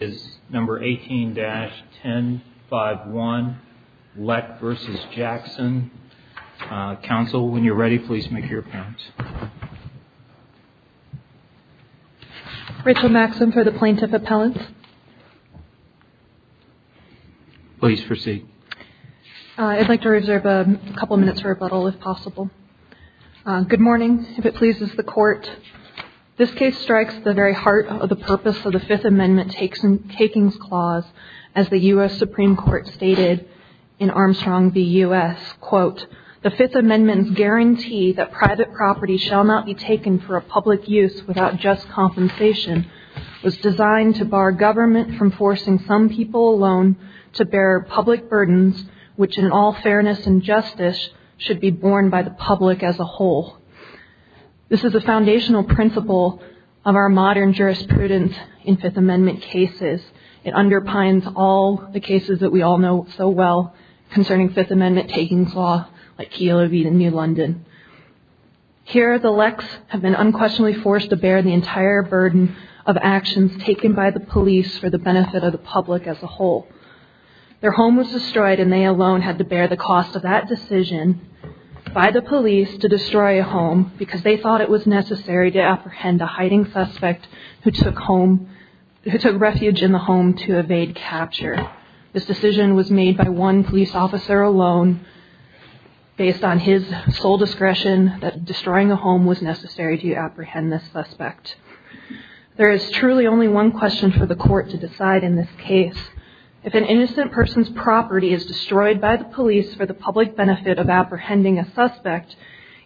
is number 18-1051 Lech v. Jackson. Counsel, when you're ready, please make your appellant. Rachel Maxim for the plaintiff appellant. Please proceed. I'd like to reserve a couple of minutes for rebuttal, if possible. Good morning. If it pleases the court, this case strikes the very heart of the purpose of the Fifth Amendment takings clause, as the U.S. Supreme Court stated in Armstrong v. U.S., quote, The Fifth Amendment's guarantee that private property shall not be taken for a public use without just compensation was designed to bar government from forcing some people alone to bear public burdens, which in all fairness and justice should be borne by the public as a whole. This is a foundational principle of our modern jurisprudence in Fifth Amendment cases. It underpins all the cases that we all know so well concerning Fifth Amendment takings law, like Keogh v. New London. Here, the Lechs have been unquestionably forced to bear the entire burden of actions taken by the police for the benefit of the public as a whole. Their home was destroyed, and they alone had to bear the cost of that decision by the police to destroy a home because they thought it was necessary to apprehend a hiding suspect who took refuge in the home to evade capture. This decision was made by one police officer alone, based on his sole discretion that destroying a home was necessary to apprehend this suspect. There is truly only one question for the court to decide in this case. If an innocent person's property is destroyed by the police for the public benefit of apprehending a suspect,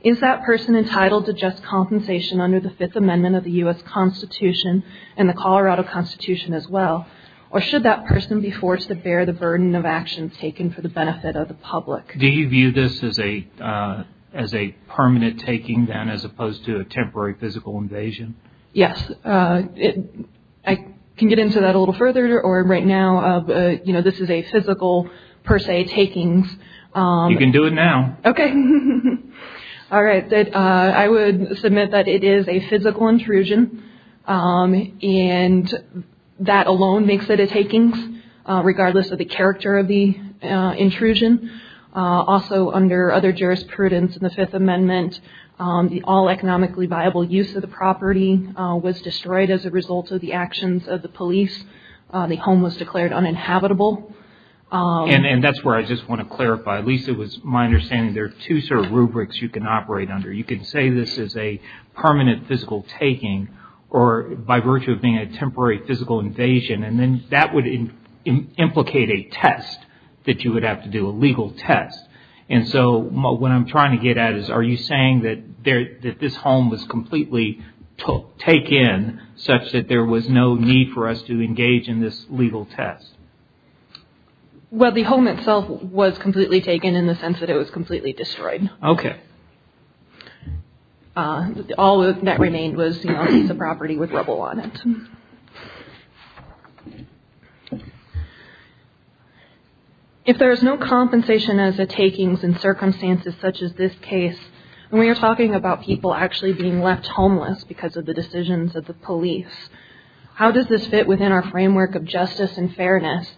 is that person entitled to just compensation under the Fifth Amendment of the U.S. Constitution and the Colorado Constitution as well, or should that person be forced to bear the burden of actions taken for the benefit of the public? Do you view this as a permanent taking, then, as opposed to a temporary physical invasion? Yes. I can get into that a little further. Right now, this is a physical, per se, takings. You can do it now. Okay. All right. I would submit that it is a physical intrusion, and that alone makes it a takings, regardless of the character of the intrusion. Also, under other jurisprudence in the Fifth Amendment, the all economically viable use of the property was destroyed as a result of the actions of the police. The home was declared uninhabitable. And that's where I just want to clarify. At least it was my understanding there are two sort of rubrics you can operate under. You can say this is a permanent physical taking, or by virtue of being a temporary physical invasion, and then that would implicate a test that you would have to do, a legal test. And so what I'm trying to get at is, are you saying that this home was completely taken, such that there was no need for us to engage in this legal test? Well, the home itself was completely taken in the sense that it was completely destroyed. Okay. All that remained was a piece of property with rubble on it. If there is no compensation as a takings in circumstances such as this case, when we are talking about people actually being left homeless because of the decisions of the police, how does this fit within our framework of justice and fairness,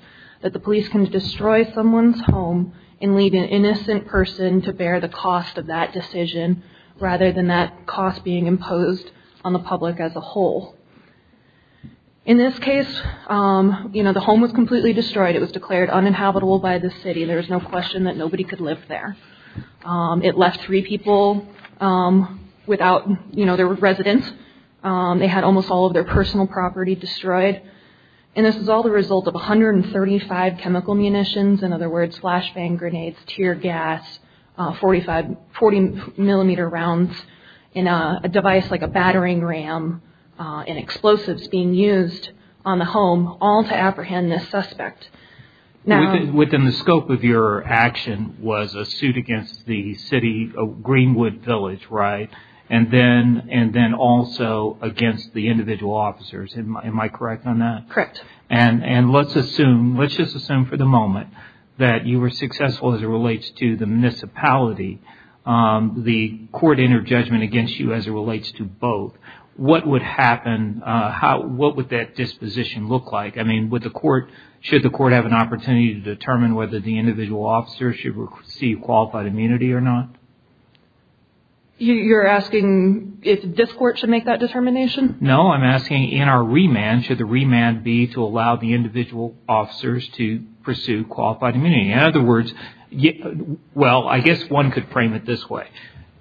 that the police can destroy someone's home and leave an innocent person to bear the cost of that decision, rather than that cost being imposed on the public as a whole? In this case, the home was completely destroyed. It was declared uninhabitable by the city. There is no question that nobody could live there. It left three people without their residence. They had almost all of their personal property destroyed. And this is all the result of 135 chemical munitions, in other words, being used on the home, all to apprehend this suspect. Within the scope of your action was a suit against the city of Greenwood Village, right? And then also against the individual officers. Am I correct on that? Correct. And let's assume, let's just assume for the moment, that you were successful as it relates to the municipality, the court entered judgment against you as it relates to both. What would happen, what would that disposition look like? I mean, would the court, should the court have an opportunity to determine whether the individual officers should receive qualified immunity or not? You're asking if this court should make that determination? No, I'm asking in our remand, should the remand be to allow the individual officers to pursue qualified immunity? In other words, well, I guess one could frame it this way.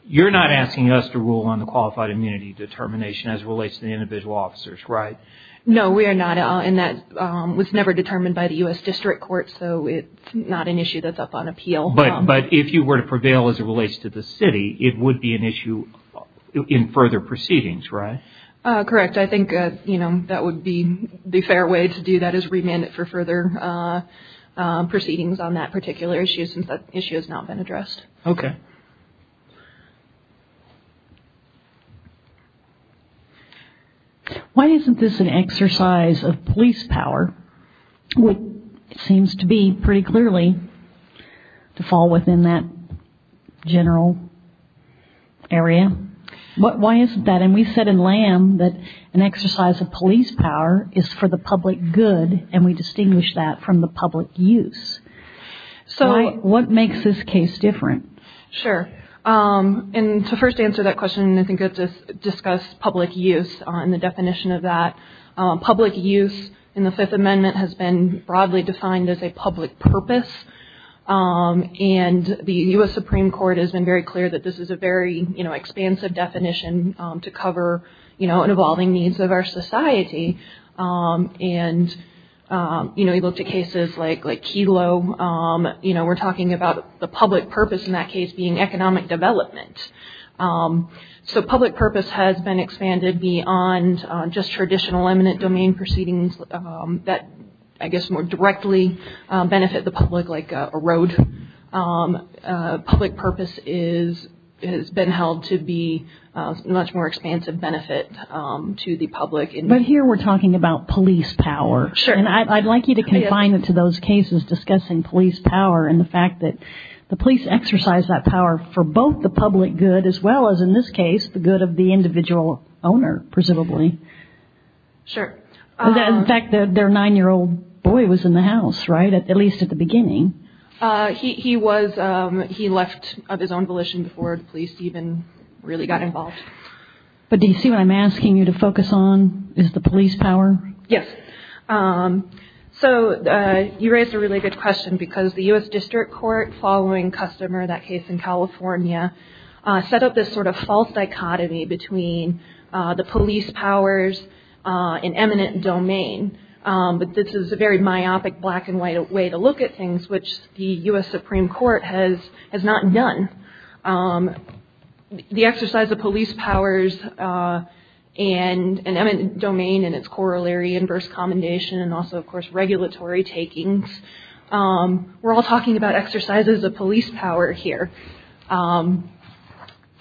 You're not asking us to rule on the qualified immunity determination as it relates to the individual officers, right? No, we are not. And that was never determined by the U.S. District Court, so it's not an issue that's up on appeal. But if you were to prevail as it relates to the city, it would be an issue in further proceedings, right? Correct. I think that would be the fair way to do that is remand it for further proceedings on that particular issue since that issue has not been addressed. Okay. Why isn't this an exercise of police power, which seems to be pretty clearly to fall within that general area? Why isn't that? And we said in Lamb that an exercise of police power is for the public good, and we distinguish that from the public use. What makes this case different? Sure. And to first answer that question, I think it's good to discuss public use and the definition of that. Public use in the Fifth Amendment has been broadly defined as a public purpose, and the U.S. Supreme Court has been very clear that this is a very expansive definition to cover an evolving needs of our society. And, you know, you look to cases like Kelo, you know, we're talking about the public purpose in that case being economic development. So public purpose has been expanded beyond just traditional eminent domain proceedings that I guess more directly benefit the public like a road. Public purpose has been held to be a much more expansive benefit to the public. But here we're talking about police power. Sure. And I'd like you to confine it to those cases discussing police power and the fact that the police exercise that power for both the public good as well as, in this case, the good of the individual owner, presumably. Sure. In fact, their nine-year-old boy was in the house, right, at least at the beginning. He was. He left of his own volition before the police even really got involved. But do you see what I'm asking you to focus on is the police power? Yes. So you raised a really good question because the U.S. District Court following Customer, that case in California, set up this sort of false dichotomy between the police powers in eminent domain. But this is a very myopic black and white way to look at things, which the U.S. Supreme Court has not done. The exercise of police powers and eminent domain and its corollary, inverse commendation, and also, of course, regulatory takings. We're all talking about exercises of police power here.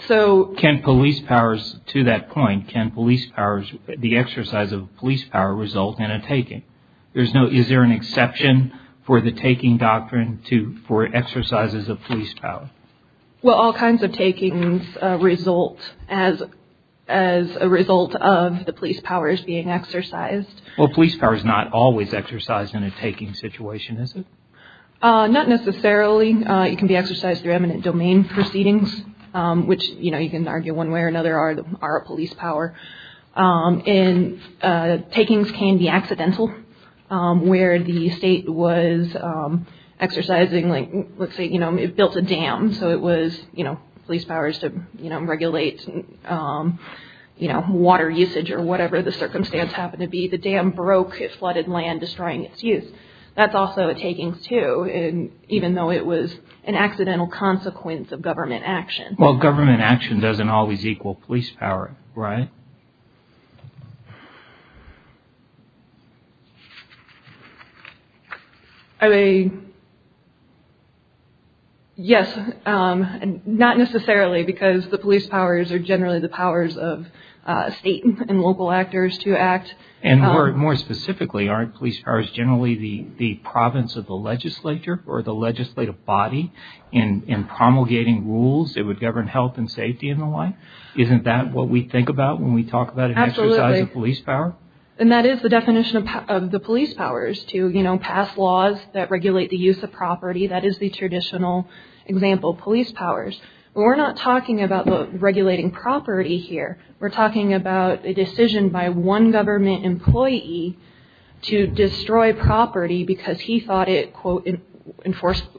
So can police powers, to that point, can police powers, the exercise of police power result in a taking? Is there an exception for the taking doctrine for exercises of police power? Well, all kinds of takings result as a result of the police powers being exercised. Well, police power is not always exercised in a taking situation, is it? Not necessarily. It can be exercised through eminent domain proceedings, which you can argue one way or another are a police power. And takings can be accidental, where the state was exercising, let's say, it built a dam, so it was police powers to regulate water usage or whatever the circumstance happened to be. The dam broke, it flooded land, destroying its use. That's also a taking, too, even though it was an accidental consequence of government action. Well, government action doesn't always equal police power, right? Yes, not necessarily, because the police powers are generally the powers of state and local actors to act. And more specifically, aren't police powers generally the province of the legislature or the legislative body in promulgating rules that would govern health and safety and the like? Isn't that what we think about when we talk about an exercise of police power? And that is the definition of the police powers, to pass laws that regulate the use of property. That is the traditional example of police powers. But we're not talking about regulating property here. We're talking about a decision by one government employee to destroy property because he thought it, quote,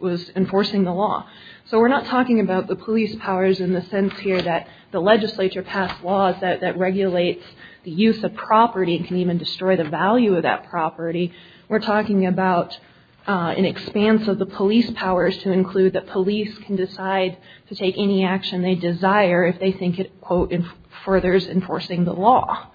was enforcing the law. So we're not talking about the police powers in the sense here that the legislature passed laws that regulate the use of property and can even destroy the value of that property. We're talking about an expanse of the police powers to include that police can decide to take any action they desire if they think it, quote, furthers enforcing the law.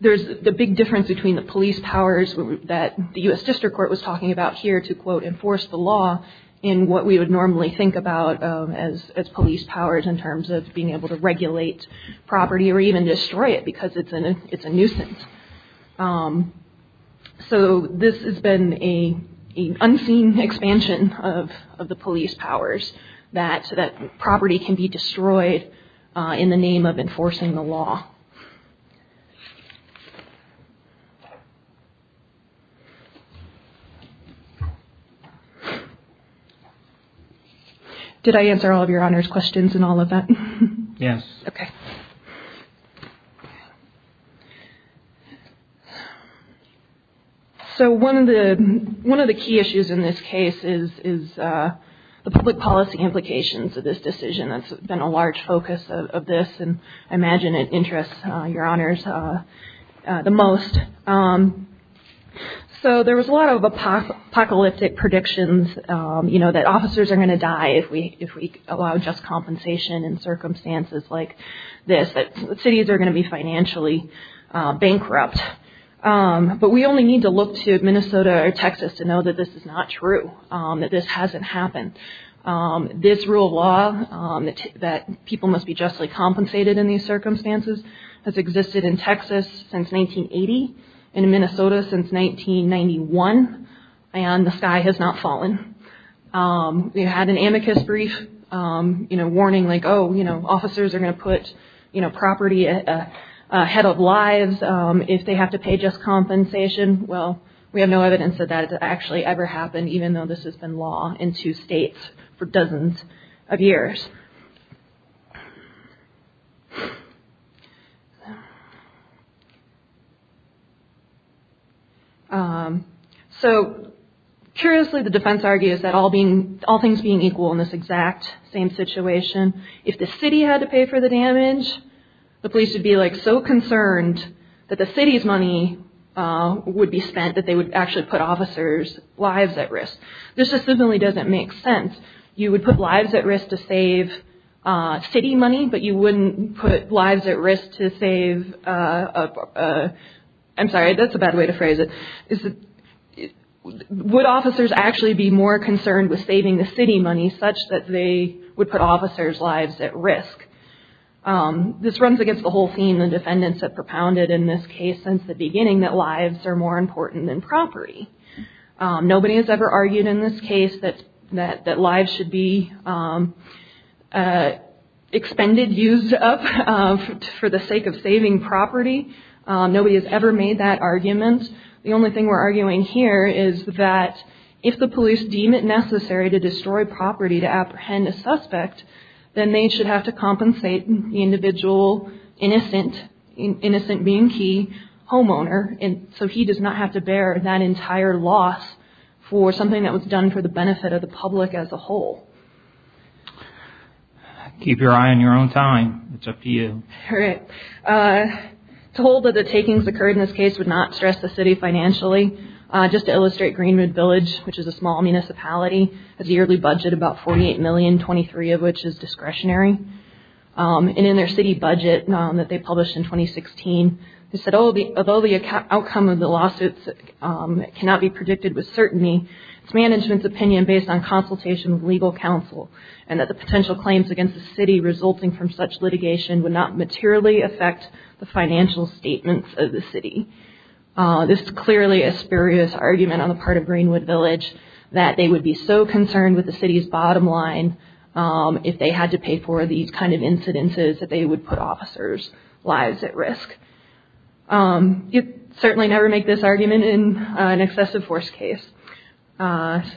There's the big difference between the police powers that the U.S. District Court was talking about here to, quote, enforce the law in what we would normally think about as police powers in terms of being able to regulate property or even destroy it because it's a nuisance. So this has been an unseen expansion of the police powers that property can be destroyed in the name of enforcing the law. Did I answer all of Your Honor's questions in all of that? Yes. Okay. So one of the key issues in this case is the public policy implications of this decision. That's been a large focus of this, and I imagine it interests Your Honors the most. So there was a lot of apocalyptic predictions, you know, that officers are going to die if we allow just compensation in circumstances like this, that cities are going to be financially bankrupt. But we only need to look to Minnesota or Texas to know that this is not true, that this hasn't happened. This rule of law that people must be justly compensated in these circumstances has existed in Texas since 1980, in Minnesota since 1991, and the sky has not fallen. We had an amicus brief warning, like, oh, officers are going to put property ahead of lives if they have to pay just compensation. Well, we have no evidence that that has actually ever happened, even though this has been law in two states for dozens of years. So, curiously, the defense argues that all things being equal in this exact same situation, if the city had to pay for the damage, the police would be, like, so concerned that the city's money would be spent that they would actually put officers' lives at risk. This just simply doesn't make sense. You would put lives at risk to save city money, but you wouldn't put lives at risk to save... I'm sorry, that's a bad way to phrase it. Would officers actually be more concerned with saving the city money such that they would put officers' lives at risk? This runs against the whole theme the defendants have propounded in this case since the beginning, that lives are more important than property. Nobody has ever argued in this case that lives should be expended, used up, for the sake of saving property. Nobody has ever made that argument. The only thing we're arguing here is that if the police deem it necessary to destroy property to apprehend a suspect, then they should have to compensate the individual innocent, being key, homeowner, so he does not have to bear that entire loss for something that was done for the benefit of the public as a whole. Keep your eye on your own time. It's up to you. Told that the takings occurred in this case would not stress the city financially. Just to illustrate, Greenwood Village, which is a small municipality, has a yearly budget of about $48 million, 23 of which is discretionary. And in their city budget that they published in 2016, they said, although the outcome of the lawsuits cannot be predicted with certainty, it's management's opinion based on consultation with legal counsel and that the potential claims against the city resulting from such litigation would not materially affect the financial statements of the city. This is clearly a spurious argument on the part of Greenwood Village that they would be so concerned with the city's bottom line if they had to pay for these kind of incidences that they would put officers' lives at risk. You'd certainly never make this argument in an excessive force case that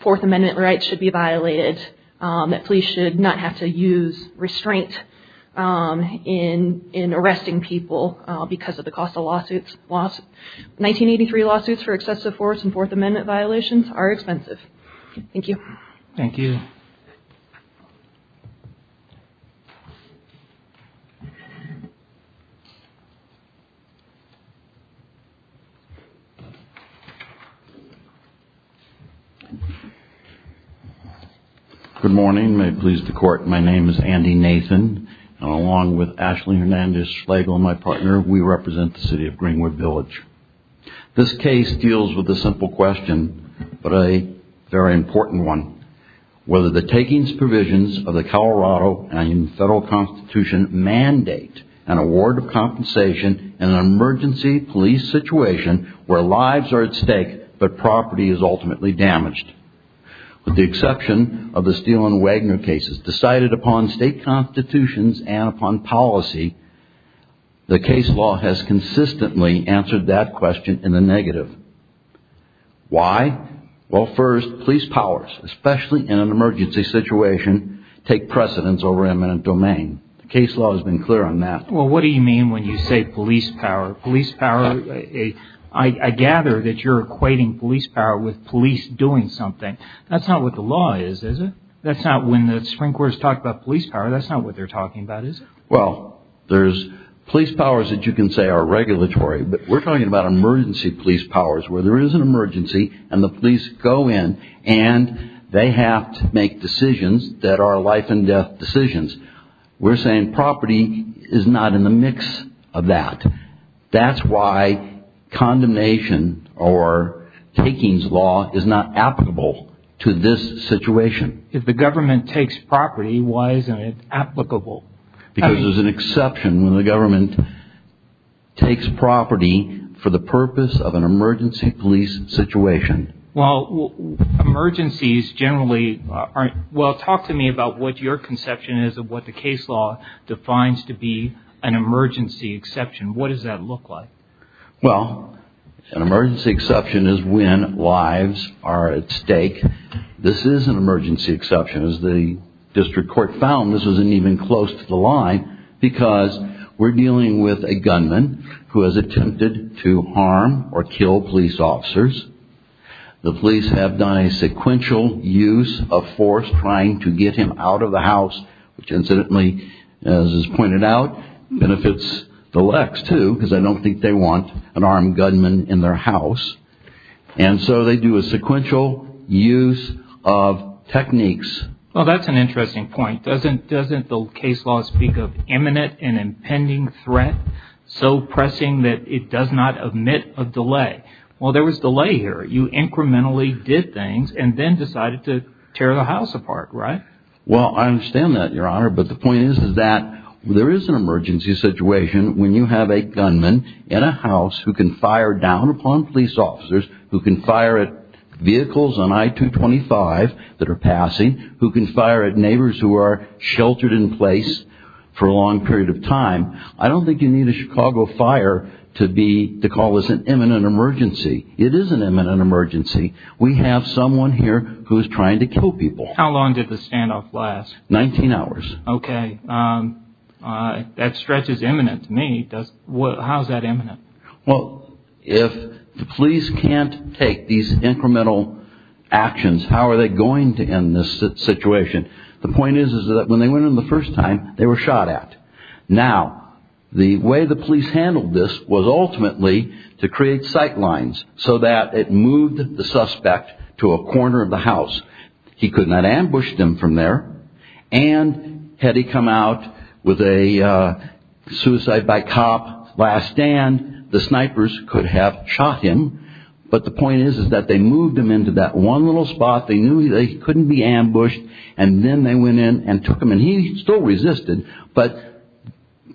Fourth Amendment rights should be violated, that police should not have to use restraint in arresting people because of the cost of lawsuits. 1983 lawsuits for excessive force and Fourth Amendment violations are expensive. Thank you. Thank you. Good morning. May it please the Court. My name is Andy Nathan, and along with Ashley Hernandez Schlegel, my partner, we represent the city of Greenwood Village. This case deals with a simple question, but a very important one. Whether the takings provisions of the Colorado federal constitution mandate an award of compensation in an emergency police situation where lives are at stake but property is ultimately damaged. With the exception of the Steele and Wagner cases decided upon state constitutions and upon policy, the case law has consistently answered that question in the negative. Why? Well, first, police powers, especially in an emergency situation, take precedence over eminent domain. The case law has been clear on that. Well, what do you mean when you say police power? Police power, I gather that you're equating police power with police doing something. That's not what the law is, is it? That's not when the Supreme Court has talked about police power, that's not what they're talking about, is it? Well, there's police powers that you can say are regulatory, but we're talking about emergency police powers where there is an emergency and the police go in and they have to make decisions that are life and death decisions. We're saying property is not in the mix of that. That's why condemnation or takings law is not applicable to this situation. If the government takes property, why isn't it applicable? Because there's an exception when the government takes property for the purpose of an emergency police situation. Well, emergencies generally aren't... Well, talk to me about what your conception is of what the case law defines to be an emergency exception. What does that look like? Well, an emergency exception is when lives are at stake. This is an emergency exception. As the district court found, this wasn't even close to the line because we're dealing with a gunman who has attempted to harm or kill police officers. The police have done a sequential use of force trying to get him out of the house, which incidentally, as is pointed out, benefits the lex, too, because I don't think they want an armed gunman in their house. And so they do a sequential use of techniques. Well, that's an interesting point. Doesn't the case law speak of imminent and impending threat, so pressing that it does not omit a delay? Well, there was delay here. You incrementally did things and then decided to tear the house apart, right? Well, I understand that, Your Honor, but the point is that there is an emergency situation when you have a gunman in a house who can fire down upon police officers, who can fire at vehicles on I-225 that are passing, who can fire at neighbors who are sheltered in place for a long period of time. I don't think you need a Chicago fire to call this an imminent emergency. It is an imminent emergency. We have someone here who is trying to kill people. How long did the standoff last? Nineteen hours. Okay. That stretch is imminent to me. How is that imminent? Well, if the police can't take these incremental actions, how are they going to end this situation? The point is that when they went in the first time, they were shot at. Now, the way the police handled this was ultimately to create sight lines so that it moved the suspect to a corner of the house. He could not ambush them from there. And had he come out with a suicide by cop last stand, the snipers could have shot him. But the point is that they moved him into that one little spot. They knew that he couldn't be ambushed, and then they went in and took him. And he still resisted, but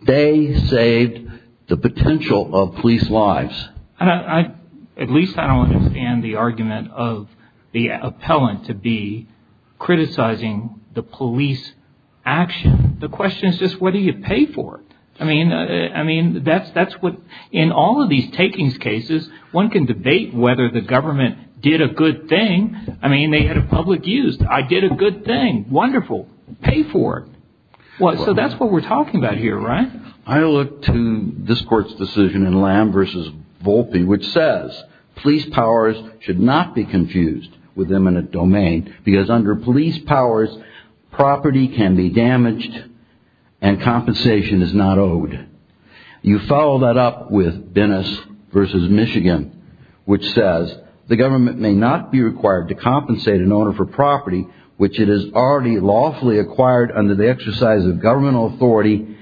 they saved the potential of police lives. At least I don't understand the argument of the appellant to be criticizing the police action. The question is just whether you pay for it. I mean, in all of these takings cases, one can debate whether the government did a good thing. I mean, they had a public use. I did a good thing. Wonderful. Pay for it. So that's what we're talking about here, right? I look to this Court's decision in Lamb v. Volpe, which says police powers should not be confused with eminent domain because under police powers, property can be damaged and compensation is not owed. You follow that up with Bennis v. Michigan, which says the government may not be required to compensate an owner for property, which it is already lawfully acquired under the exercise of governmental authority,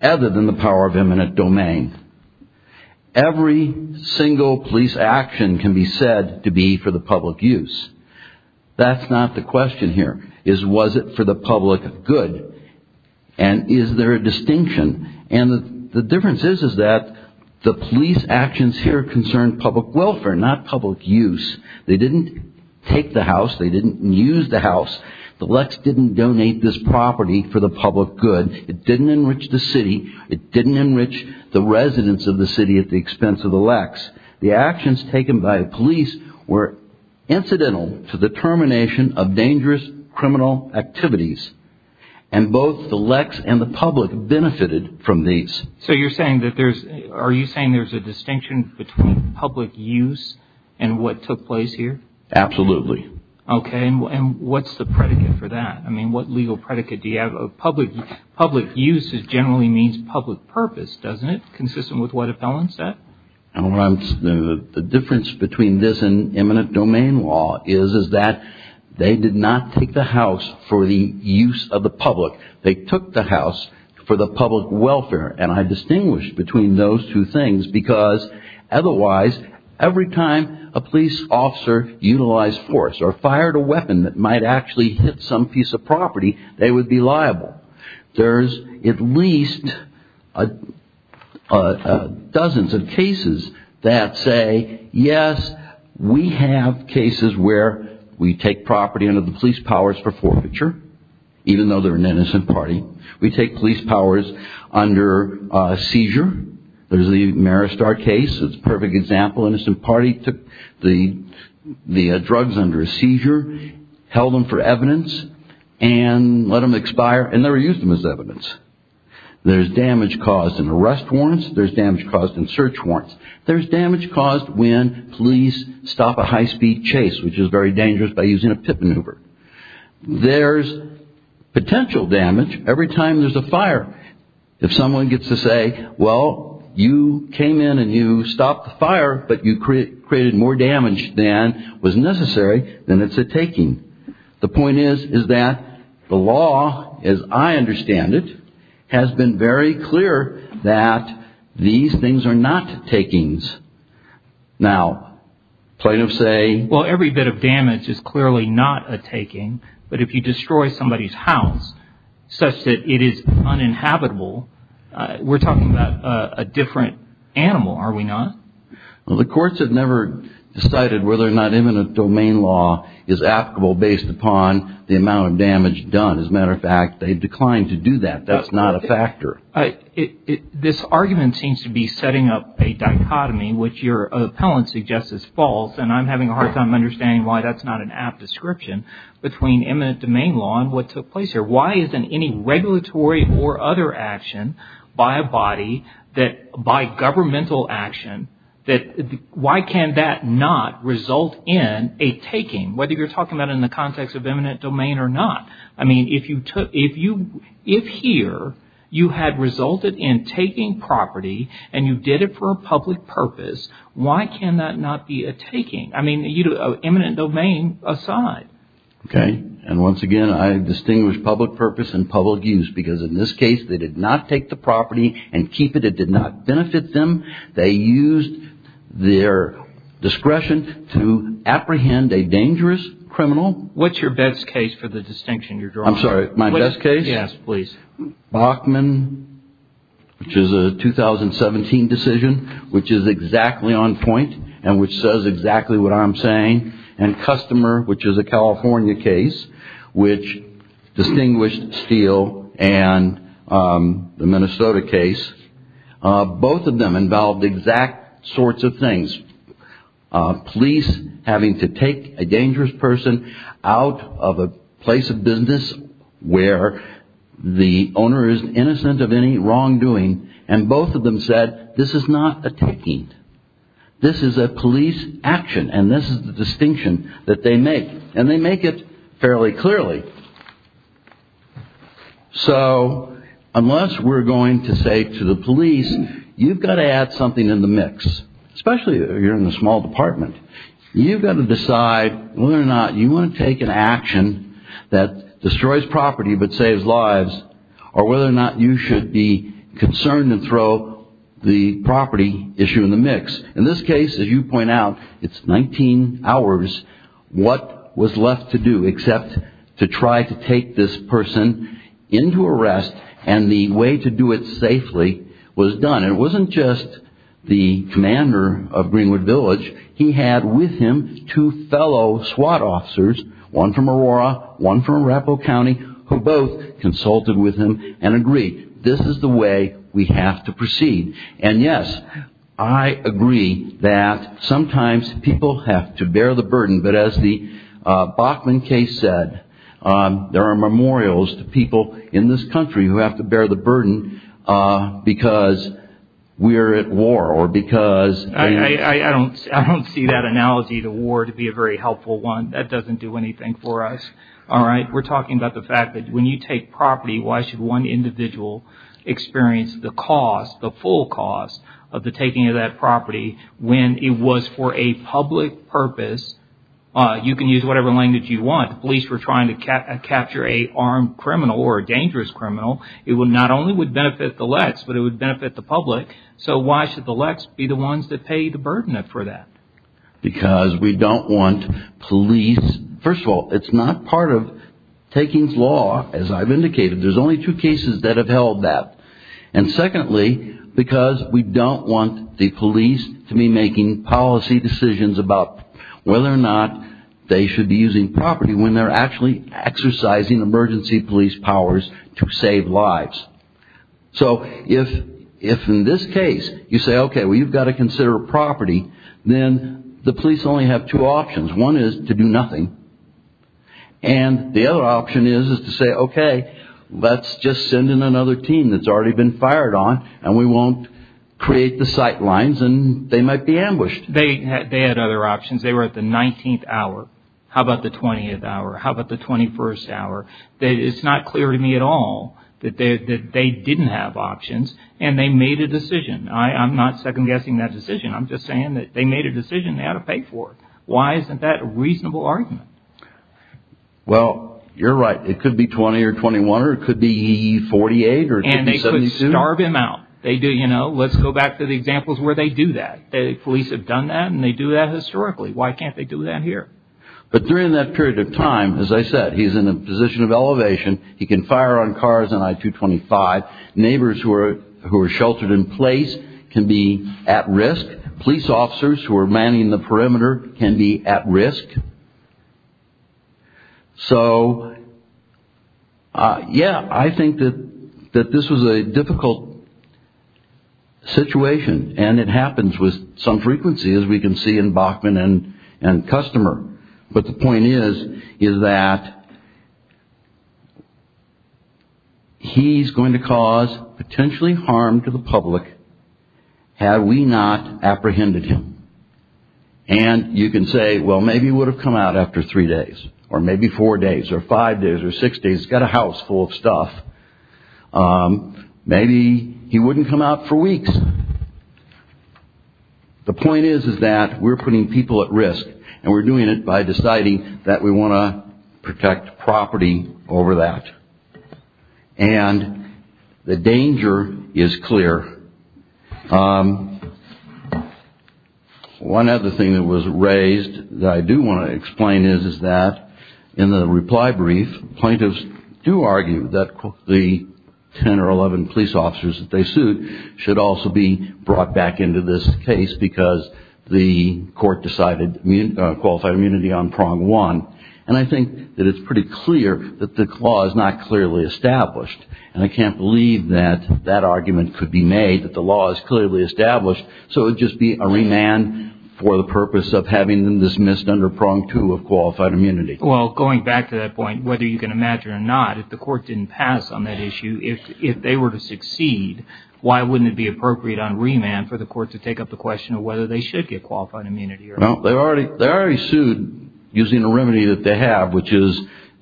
other than the power of eminent domain. Every single police action can be said to be for the public use. That's not the question here, is was it for the public good, and is there a distinction? And the difference is that the police actions here concern public welfare, not public use. They didn't take the house. They didn't use the house. The LECs didn't donate this property for the public good. It didn't enrich the city. It didn't enrich the residents of the city at the expense of the LECs. The actions taken by the police were incidental to the termination of dangerous criminal activities, and both the LECs and the public benefited from these. So you're saying that there's a distinction between public use and what took place here? Absolutely. Okay, and what's the predicate for that? I mean, what legal predicate do you have? Public use generally means public purpose, doesn't it, consistent with what a felon said? The difference between this and eminent domain law is that they did not take the house for the use of the public. They took the house for the public welfare, and I distinguish between those two things because otherwise every time a police officer utilized force or fired a weapon that might actually hit some piece of property, they would be liable. There's at least dozens of cases that say, yes, we have cases where we take property under the police powers for forfeiture, even though they're an innocent party. We take police powers under seizure. There's the Maristar case. It's a perfect example. An innocent party took the drugs under a seizure, held them for evidence, and let them expire, and never used them as evidence. There's damage caused in arrest warrants. There's damage caused in search warrants. There's damage caused when police stop a high-speed chase, which is very dangerous by using a pit maneuver. There's potential damage every time there's a fire. If someone gets to say, well, you came in and you stopped the fire, but you created more damage than was necessary, then it's a taking. The point is that the law, as I understand it, has been very clear that these things are not takings. Now, plaintiffs say- Well, every bit of damage is clearly not a taking, but if you destroy somebody's house such that it is uninhabitable, we're talking about a different animal, are we not? Well, the courts have never decided whether or not imminent domain law is applicable based upon the amount of damage done. As a matter of fact, they've declined to do that. That's not a factor. This argument seems to be setting up a dichotomy, which your appellant suggests is false, and I'm having a hard time understanding why that's not an apt description between imminent domain law and what took place here. Why isn't any regulatory or other action by a body, by governmental action, why can that not result in a taking, whether you're talking about it in the context of imminent domain or not? I mean, if here you had resulted in taking property and you did it for a public purpose, why can that not be a taking? I mean, imminent domain aside. Okay, and once again, I distinguish public purpose and public use, because in this case they did not take the property and keep it. It did not benefit them. They used their discretion to apprehend a dangerous criminal. What's your best case for the distinction you're drawing? I'm sorry, my best case? Yes, please. Bachman, which is a 2017 decision, which is exactly on point and which says exactly what I'm saying, and Customer, which is a California case, which distinguished Steele and the Minnesota case. Both of them involved exact sorts of things. Police having to take a dangerous person out of a place of business where the owner is innocent of any wrongdoing, and both of them said this is not a taking. This is a police action, and this is the distinction that they make, and they make it fairly clearly. So unless we're going to say to the police you've got to add something in the mix, especially if you're in a small department, you've got to decide whether or not you want to take an action that destroys property but saves lives, or whether or not you should be concerned and throw the property issue in the mix. In this case, as you point out, it's 19 hours. What was left to do except to try to take this person into arrest, and the way to do it safely was done. It wasn't just the commander of Greenwood Village. He had with him two fellow SWAT officers, one from Aurora, one from Arapahoe County, who both consulted with him and agreed this is the way we have to proceed. And yes, I agree that sometimes people have to bear the burden, but as the Bachman case said, there are memorials to people in this country who have to bear the burden because we are at war or because... I don't see that analogy, the war, to be a very helpful one. That doesn't do anything for us. We're talking about the fact that when you take property, why should one individual experience the cost, the full cost, of the taking of that property when it was for a public purpose? You can use whatever language you want. Police were trying to capture an armed criminal or a dangerous criminal. It not only would benefit the Lex, but it would benefit the public. So why should the Lex be the ones that pay the burden for that? Because we don't want police... First of all, it's not part of takings law, as I've indicated. There's only two cases that have held that. And secondly, because we don't want the police to be making policy decisions about whether or not they should be using property when they're actually exercising emergency police powers to save lives. So if in this case you say, okay, well, you've got to consider a property, then the police only have two options. One is to do nothing, and the other option is to say, okay, let's just send in another team that's already been fired on, and we won't create the sight lines, and they might be ambushed. They had other options. They were at the 19th hour. How about the 20th hour? How about the 21st hour? It's not clear to me at all that they didn't have options, and they made a decision. I'm not second-guessing that decision. I'm just saying that they made a decision they ought to pay for. Why isn't that a reasonable argument? Well, you're right. It could be 20 or 21, or it could be 48, or it could be 72. And they could starve him out. Let's go back to the examples where they do that. Police have done that, and they do that historically. Why can't they do that here? But during that period of time, as I said, he's in a position of elevation. He can fire on cars on I-225. Neighbors who are sheltered in place can be at risk. Police officers who are manning the perimeter can be at risk. So, yeah, I think that this was a difficult situation. And it happens with some frequency, as we can see in Bachman and Customer. But the point is that he's going to cause potentially harm to the public had we not apprehended him. And you can say, well, maybe he would have come out after three days, or maybe four days, or five days, or six days. He's got a house full of stuff. Maybe he wouldn't come out for weeks. The point is that we're putting people at risk, and we're doing it by deciding that we want to protect property over that. And the danger is clear. One other thing that was raised that I do want to explain is that in the reply brief, plaintiffs do argue that the 10 or 11 police officers that they sue should also be brought back into this case because the court decided qualified immunity on prong one. And I think that it's pretty clear that the clause is not clearly established. And I can't believe that that argument could be made, that the law is clearly established, so it would just be a remand for the purpose of having them dismissed under prong two of qualified immunity. Well, going back to that point, whether you can imagine or not, if the court didn't pass on that issue, if they were to succeed, why wouldn't it be appropriate on remand for the court to take up the question of whether they should get qualified immunity? Well, they already sued using a remedy that they have, which is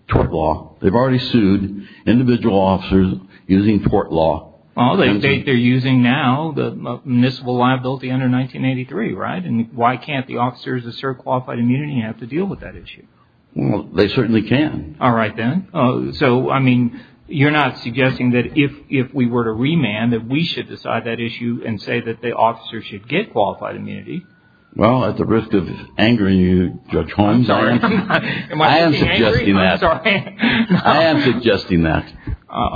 tort law. They've already sued individual officers using tort law. Well, they state they're using now the municipal liability under 1983, right? And why can't the officers that serve qualified immunity have to deal with that issue? Well, they certainly can. All right, then. So, I mean, you're not suggesting that if we were to remand, that we should decide that issue and say that the officers should get qualified immunity? Well, at the risk of angering you, Judge Holmes, I am suggesting that.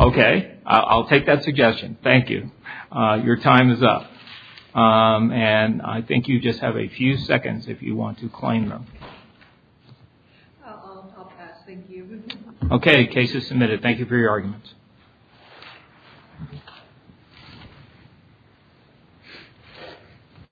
Okay. I'll take that suggestion. Thank you. Your time is up. And I think you just have a few seconds if you want to claim them. I'll pass. Thank you. Okay. Case is submitted. Thank you for your arguments.